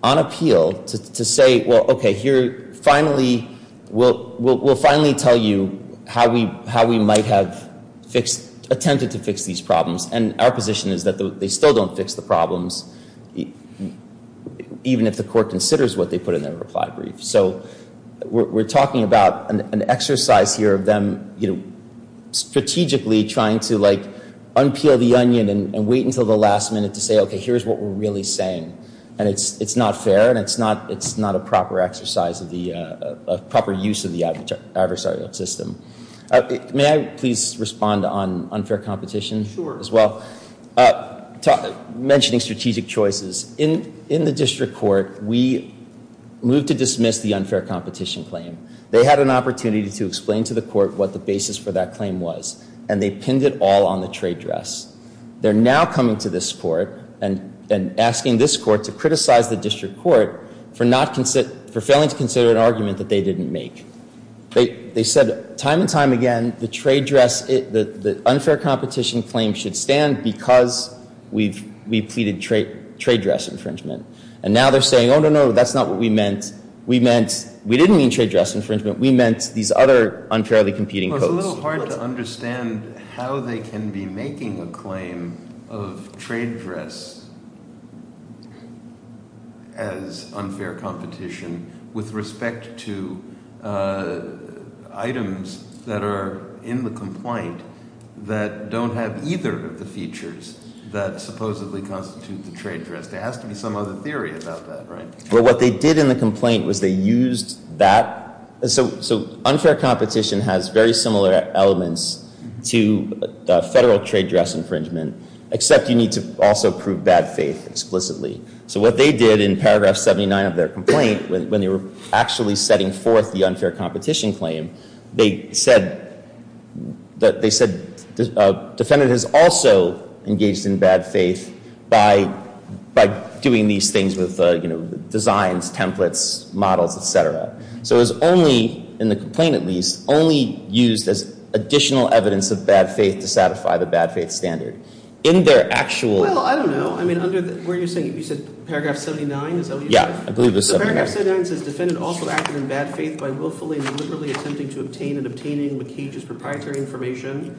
on appeal to say, well, okay, here finally – we'll finally tell you how we might have attempted to fix these problems. And our position is that they still don't fix the problems even if the court considers what they put in their reply brief. So we're talking about an exercise here of them strategically trying to like unpeel the onion and wait until the last minute to say, okay, here's what we're really saying. And it's not fair and it's not a proper exercise of the – proper use of the adversarial system. May I please respond on unfair competition as well? Sure. Mentioning strategic choices. In the district court, we moved to dismiss the unfair competition claim. They had an opportunity to explain to the court what the basis for that claim was, and they pinned it all on the trade dress. They're now coming to this court and asking this court to criticize the district court for not – for failing to consider an argument that they didn't make. They said time and time again the trade dress – the unfair competition claim should stand because we've pleaded trade dress infringement. And now they're saying, oh, no, no, that's not what we meant. We meant – we didn't mean trade dress infringement. We meant these other unfairly competing codes. It's a little hard to understand how they can be making a claim of trade dress as unfair competition with respect to items that are in the complaint that don't have either of the features that supposedly constitute the trade dress. There has to be some other theory about that, right? Well, what they did in the complaint was they used that. So unfair competition has very similar elements to federal trade dress infringement, except you need to also prove bad faith explicitly. So what they did in paragraph 79 of their complaint, when they were actually setting forth the unfair competition claim, they said – they said a defendant is also engaged in bad faith by doing these things with, you know, designs, templates, models, et cetera. So it was only – in the complaint at least – only used as additional evidence of bad faith to satisfy the bad faith standard. In their actual – Well, I don't know. I mean under – where are you saying – you said paragraph 79 is – Yeah, I believe it was 79. So paragraph 79 says defendant also acted in bad faith by willfully and deliberately attempting to obtain and obtaining McCage's proprietary information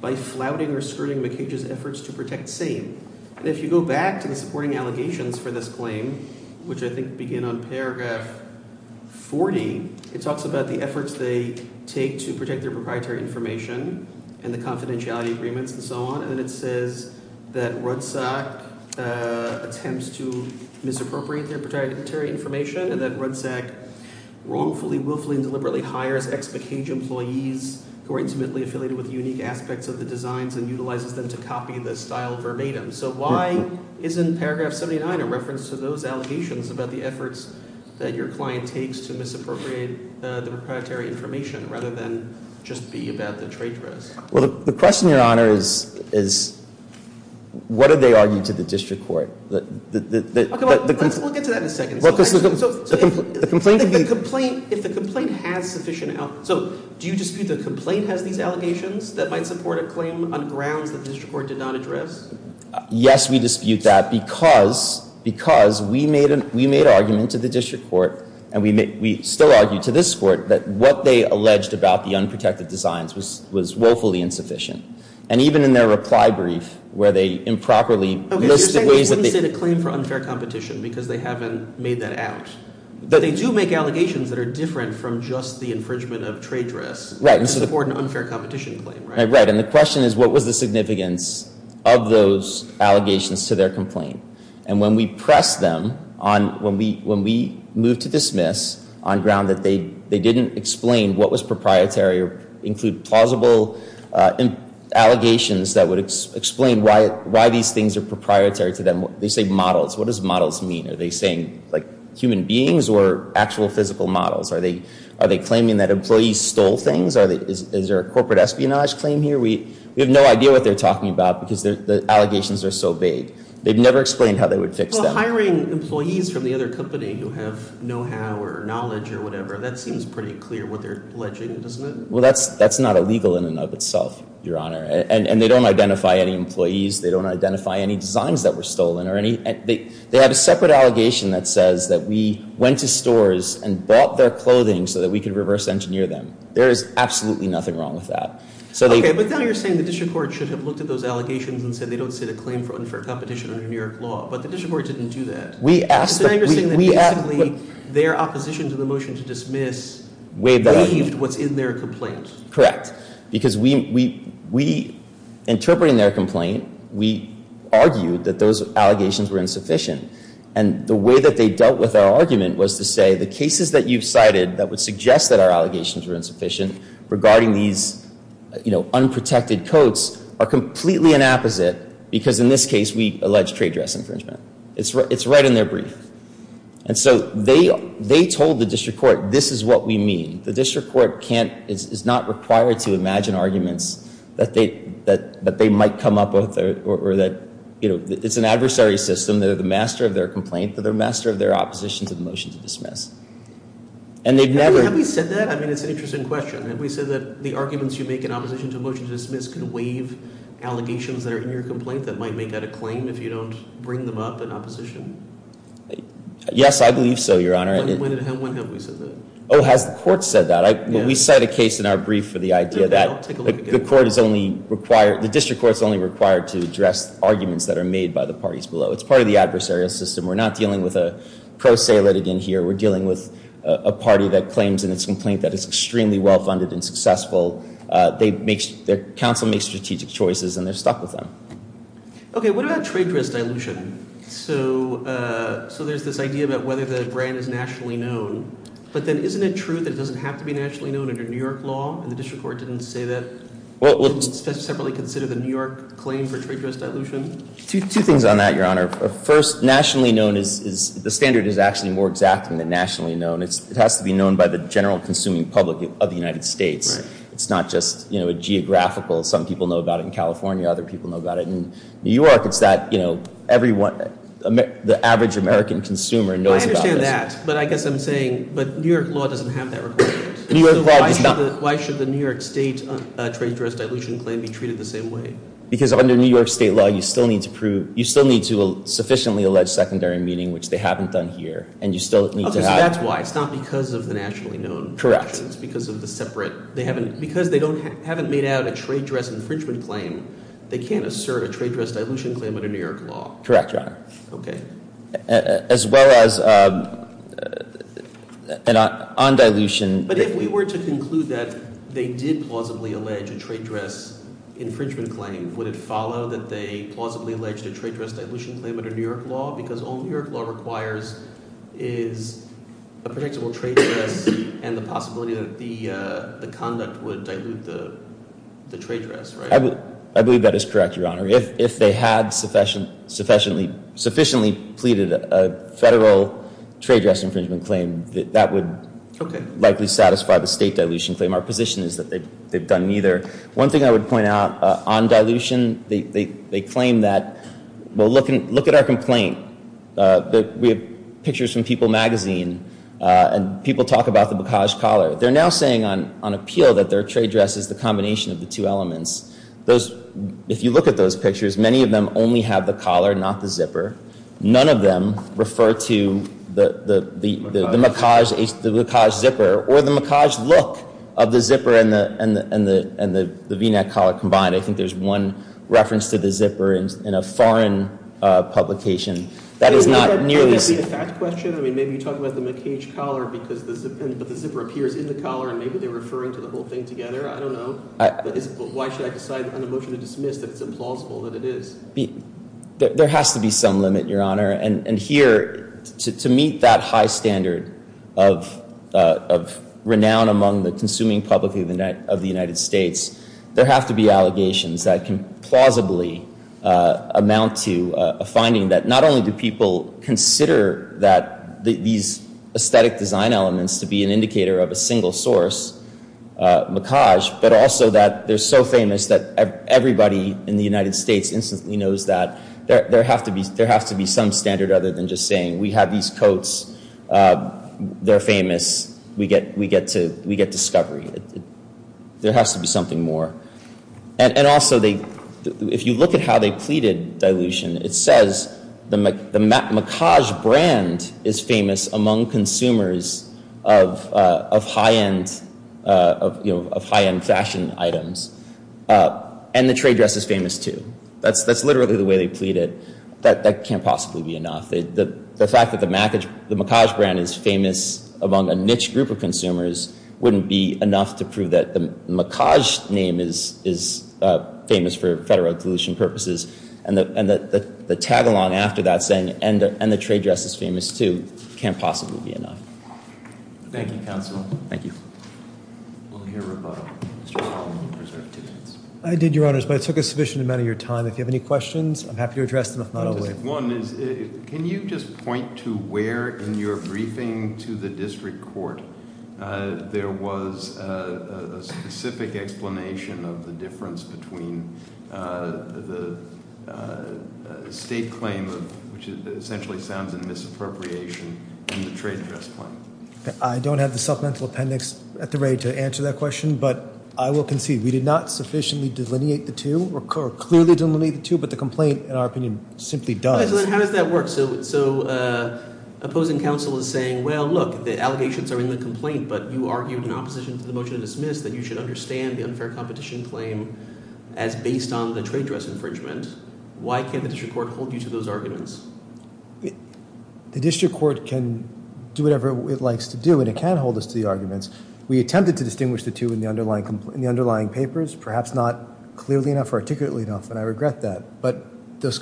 by flouting or skirting McCage's efforts to protect same. And if you go back to the supporting allegations for this claim, which I think begin on paragraph 40, it talks about the efforts they take to protect their proprietary information and the confidentiality agreements and so on. And then it says that Rudzak attempts to misappropriate their proprietary information and that Rudzak wrongfully, willfully, and deliberately hires ex-McCage employees who are intimately affiliated with unique aspects of the designs and utilizes them to copy the style verbatim. So why isn't paragraph 79 a reference to those allegations about the efforts that your client takes to misappropriate the proprietary information rather than just be about the trade dress? Well, the question, Your Honor, is what did they argue to the district court? We'll get to that in a second. So if the complaint has sufficient – so do you dispute the complaint has these allegations that might support a claim on grounds that the district court did not address? Yes, we dispute that because we made argument to the district court and we still argue to this court that what they alleged about the unprotected designs was woefully insufficient. And even in their reply brief where they improperly – Okay, so you're saying they wouldn't say the claim for unfair competition because they haven't made that out. But they do make allegations that are different from just the infringement of trade dress to support an unfair competition claim, right? Right, and the question is what was the significance of those allegations to their complaint? And when we press them on – when we move to dismiss on ground that they didn't explain what was proprietary or include plausible allegations that would explain why these things are proprietary to them, they say models. What does models mean? Are they saying like human beings or actual physical models? Are they claiming that employees stole things? Is there a corporate espionage claim here? We have no idea what they're talking about because the allegations are so vague. They've never explained how they would fix that. Well, hiring employees from the other company who have know-how or knowledge or whatever, that seems pretty clear what they're alleging, doesn't it? Well, that's not illegal in and of itself, Your Honor, and they don't identify any employees. They don't identify any designs that were stolen or any – they have a separate allegation that says that we went to stores and bought their clothing so that we could reverse engineer them. There is absolutely nothing wrong with that. Okay. But now you're saying the district court should have looked at those allegations and said they don't sit a claim for unfair competition under New York law, but the district court didn't do that. We asked – we – It's interesting that basically their opposition to the motion to dismiss waived what's in their complaint. Correct. Because we – interpreting their complaint, we argued that those allegations were insufficient. And the way that they dealt with our argument was to say the cases that you've cited that would suggest that our allegations were insufficient regarding these, you know, unprotected coats are completely an apposite because in this case we allege trade dress infringement. It's right in their brief. And so they told the district court, this is what we mean. The district court can't – is not required to imagine arguments that they might come up with or that, you know, it's an adversary system. They're the master of their complaint. They're the master of their opposition to the motion to dismiss. And they've never – Have we said that? I mean, it's an interesting question. Have we said that the arguments you make in opposition to a motion to dismiss can waive allegations that are in your complaint that might make that a claim if you don't bring them up in opposition? Yes, I believe so, Your Honor. When have we said that? Oh, has the court said that? We cite a case in our brief for the idea that the court is only required – the district court is only required to address arguments that are made by the parties below. It's part of the adversarial system. We're not dealing with a pro se litigant here. We're dealing with a party that claims in its complaint that it's extremely well funded and successful. They make – their counsel makes strategic choices and they're stuck with them. Okay, what about trade dress dilution? So there's this idea about whether the brand is nationally known. But then isn't it true that it doesn't have to be nationally known under New York law and the district court didn't say that? Well – Didn't it separately consider the New York claim for trade dress dilution? Two things on that, Your Honor. First, nationally known is – the standard is actually more exact than nationally known. It has to be known by the general consuming public of the United States. It's not just a geographical – some people know about it in California, other people know about it in New York. It's that everyone – the average American consumer knows about this. I understand that. But I guess I'm saying – but New York law doesn't have that requirement. New York law does not. So why should the New York state trade dress dilution claim be treated the same way? Because under New York state law, you still need to prove – you still need to sufficiently allege secondary meaning, which they haven't done here. And you still need to have – Okay, so that's why. It's not because of the nationally known. Correct. It's because of the separate – they haven't – because they don't – haven't made out a trade dress infringement claim, they can't assert a trade dress dilution claim under New York law. Correct, Your Honor. Okay. As well as on dilution. But if we were to conclude that they did plausibly allege a trade dress infringement claim, would it follow that they plausibly alleged a trade dress dilution claim under New York law? Because all New York law requires is a predictable trade dress and the possibility that the conduct would dilute the trade dress, right? I believe that is correct, Your Honor. If they had sufficiently pleaded a federal trade dress infringement claim, that would likely satisfy the state dilution claim. Our position is that they've done neither. One thing I would point out, on dilution, they claim that – well, look at our complaint. We have pictures from People magazine, and people talk about the bokaj collar. They're now saying on appeal that their trade dress is the combination of the two elements. Those – if you look at those pictures, many of them only have the collar, not the zipper. None of them refer to the bokaj zipper or the bokaj look of the zipper and the V-neck collar combined. I think there's one reference to the zipper in a foreign publication that is not nearly – Is that a fact question? I mean, maybe you're talking about the bokaj collar because the zipper appears in the collar, and maybe they're referring to the whole thing together. I don't know. Why should I decide on a motion to dismiss that it's implausible that it is? There has to be some limit, Your Honor. And here, to meet that high standard of renown among the consuming public of the United States, there have to be allegations that can plausibly amount to a finding that not only do people consider that these aesthetic design elements to be an indicator of a single source, bokaj, but also that they're so famous that everybody in the United States instantly knows that. There has to be some standard other than just saying we have these coats. They're famous. We get discovery. There has to be something more. And also, if you look at how they pleaded dilution, it says the bokaj brand is famous among consumers of high-end fashion items, and the trade dress is famous too. That's literally the way they pleaded. That can't possibly be enough. The fact that the bokaj brand is famous among a niche group of consumers wouldn't be enough to prove that the bokaj name is famous for federal dilution purposes. And the tag-along after that saying, and the trade dress is famous too, can't possibly be enough. Thank you, Counsel. Thank you. We'll hear from Mr. McClellan in reserve two minutes. I did, Your Honors, but it took a sufficient amount of your time. If you have any questions, I'm happy to address them, if not, I'll wait. One is, can you just point to where, in your briefing to the district court, there was a specific explanation of the difference between the state claim, which essentially sounds in misappropriation, and the trade dress claim? I don't have the supplemental appendix at the ready to answer that question, but I will concede. We did not sufficiently delineate the two, or clearly delineate the two, but the complaint, in our opinion, simply does. How does that work? So opposing counsel is saying, well, look, the allegations are in the complaint, but you argued in opposition to the motion to dismiss that you should understand the unfair competition claim as based on the trade dress infringement. Why can't the district court hold you to those arguments? The district court can do whatever it likes to do, and it can hold us to the arguments. We attempted to distinguish the two in the underlying papers, perhaps not clearly enough or articulately enough, and I regret that. But those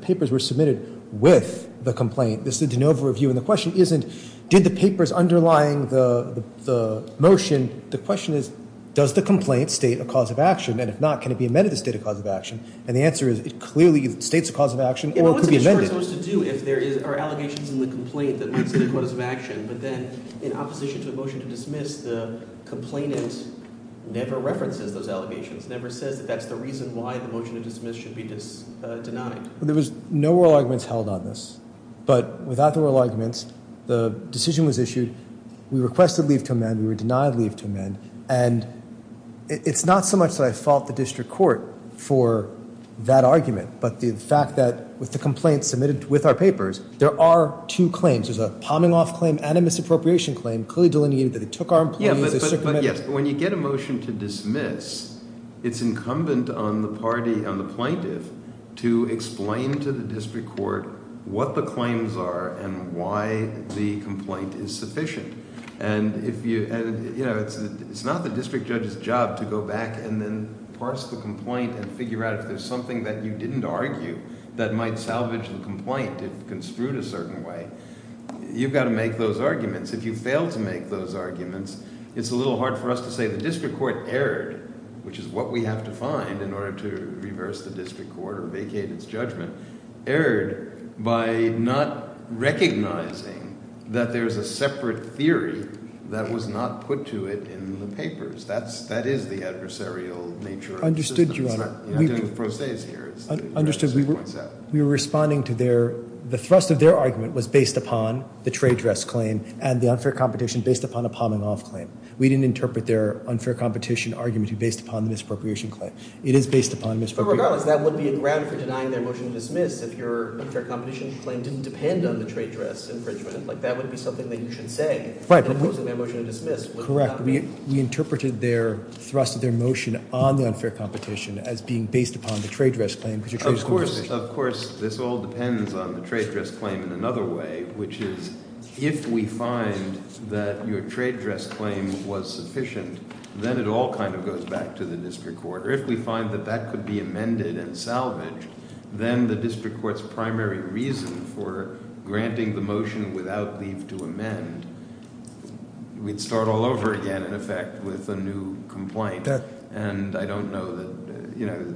papers were submitted with the complaint. This is an overview, and the question isn't, did the papers underlying the motion? The question is, does the complaint state a cause of action, and if not, can it be amended to state a cause of action? And the answer is, it clearly states a cause of action or could be amended. Well, what's the district supposed to do if there are allegations in the complaint that lead to the cause of action, but then in opposition to the motion to dismiss, the complainant never references those allegations, never says that that's the reason why the motion to dismiss should be denied? There was no oral arguments held on this, but without the oral arguments, the decision was issued. We requested leave to amend. We were denied leave to amend, and it's not so much that I fault the district court for that argument, but the fact that with the complaint submitted with our papers, there are two claims. There's a palming off claim and a misappropriation claim clearly delineated that it took our employees. But yes, when you get a motion to dismiss, it's incumbent on the party, on the plaintiff, to explain to the district court what the claims are and why the complaint is sufficient. And, you know, it's not the district judge's job to go back and then parse the complaint and figure out if there's something that you didn't argue that might salvage the complaint if construed a certain way. You've got to make those arguments. If you fail to make those arguments, it's a little hard for us to say the district court erred, which is what we have to find in order to reverse the district court or vacate its judgment, erred by not recognizing that there's a separate theory that was not put to it in the papers. That is the adversarial nature of the system. I understood, Your Honor. It's not doing the pro ses here. I understood. We were responding to their ‑‑ the thrust of their argument was based upon the trade dress claim and the unfair competition based upon a palming off claim. We didn't interpret their unfair competition argument based upon the misappropriation claim. It is based upon misappropriation. Regardless, that would be grounded for denying their motion to dismiss if your unfair competition claim didn't depend on the trade dress infringement. That would be something that you should say. Opposing their motion to dismiss would not be. Correct. We interpreted their thrust of their motion on the unfair competition as being based upon the trade dress claim. Of course, this all depends on the trade dress claim in another way, which is if we find that your trade dress claim was sufficient, then it all kind of goes back to the district court. Or if we find that that could be amended and salvaged, then the district court's primary reason for granting the motion without leave to amend, we'd start all over again, in effect, with a new complaint. And I don't know that, you know,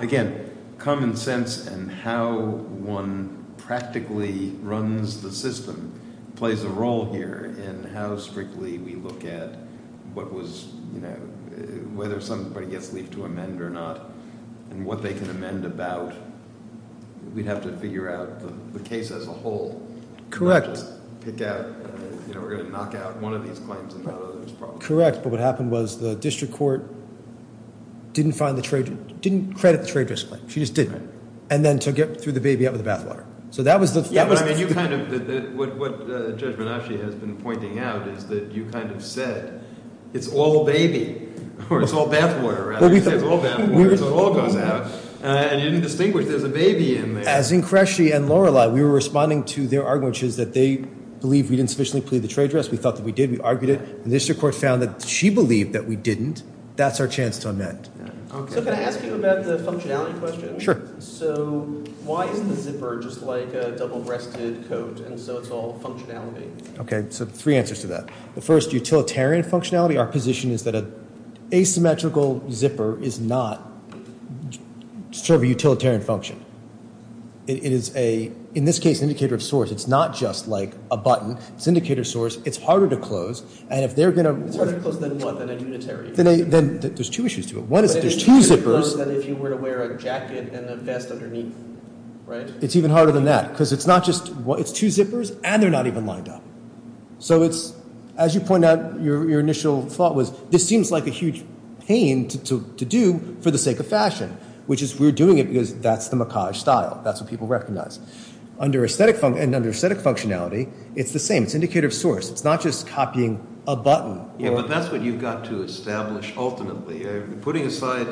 again, common sense and how one practically runs the system plays a role here in how strictly we look at what was, you know, whether somebody gets leave to amend or not and what they can amend about. We'd have to figure out the case as a whole. Correct. Not just pick out, you know, we're going to knock out one of these claims and not another. Correct, but what happened was the district court didn't find the trade, didn't credit the trade dress claim. She just didn't. And then took it, threw the baby out with the bathwater. So that was the thing. Yeah, but I mean, you kind of, what Judge Banaschi has been pointing out is that you kind of said, it's all baby, or it's all bathwater, rather. You said it's all bathwater, so it all goes out. And you didn't distinguish there's a baby in there. As in Cresci and Lorelei, we were responding to their argument, which is that they believe we didn't sufficiently plead the trade dress. We thought that we did. We argued it. The district court found that she believed that we didn't. That's our chance to amend. So can I ask you about the functionality question? Sure. So why is the zipper just like a double-breasted coat, and so it's all functionality? Okay, so three answers to that. The first, utilitarian functionality. Our position is that an asymmetrical zipper is not sort of a utilitarian function. It is a, in this case, an indicator of source. It's not just like a button. It's an indicator of source. It's harder to close. It's harder to close than what, than a unitary? There's two issues to it. One is there's two zippers. But it's easier to close than if you were to wear a jacket and a vest underneath, right? It's even harder than that because it's not just, it's two zippers, and they're not even lined up. So it's, as you point out, your initial thought was this seems like a huge pain to do for the sake of fashion, which is we're doing it because that's the macaj style. That's what people recognize. Under aesthetic functionality, it's the same. It's an indicator of source. It's not just copying a button. Yeah, but that's what you've got to establish ultimately. Putting aside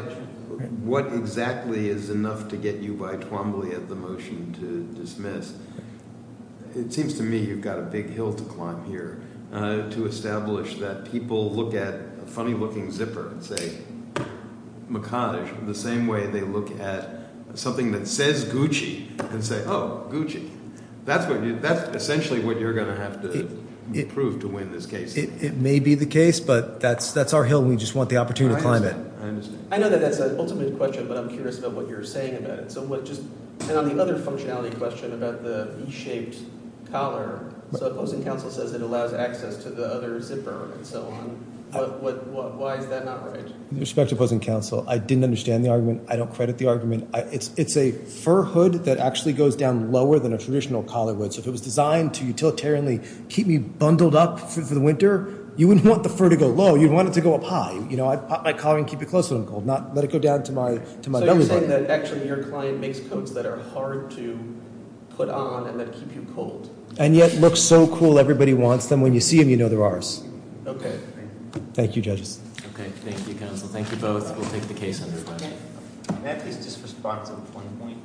what exactly is enough to get you by Twombly at the motion to dismiss, it seems to me you've got a big hill to climb here to establish that people look at a funny-looking zipper and say macaj, the same way they look at something that says Gucci and say, oh, Gucci. That's essentially what you're going to have to prove to win this case. It may be the case, but that's our hill. We just want the opportunity to climb it. I understand. I know that that's an ultimate question, but I'm curious about what you're saying about it. And on the other functionality question about the V-shaped collar, so opposing counsel says it allows access to the other zipper and so on. Why is that not right? With respect to opposing counsel, I didn't understand the argument. I don't credit the argument. It's a fur hood that actually goes down lower than a traditional collar would. So if it was designed to utilitarianly keep me bundled up for the winter, you wouldn't want the fur to go low. You'd want it to go up high. I'd pop my collar and keep it closed when I'm cold, not let it go down to my belly button. So you're saying that actually your client makes coats that are hard to put on and that keep you cold. And yet look so cool, everybody wants them. When you see them, you know they're ours. Okay. Thank you, judges. Okay. Thank you, counsel. Thank you both. We'll take the case under review. May I please just respond to one point?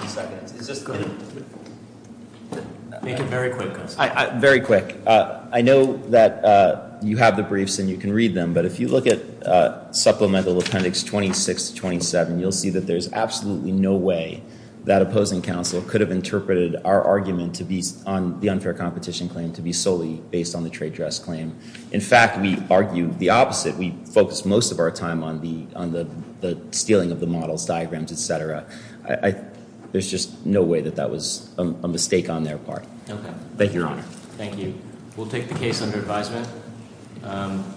One second. Is this good? Make it very quick, counsel. Very quick. I know that you have the briefs and you can read them, but if you look at supplemental appendix 26 to 27, you'll see that there's absolutely no way that opposing counsel could have interpreted our argument on the unfair competition claim to be solely based on the trade dress claim. In fact, we argued the opposite. We focused most of our time on the stealing of the models, diagrams, et cetera. There's just no way that that was a mistake on their part. Okay. Thank you, Your Honor. Thank you. We'll take the case under advisement.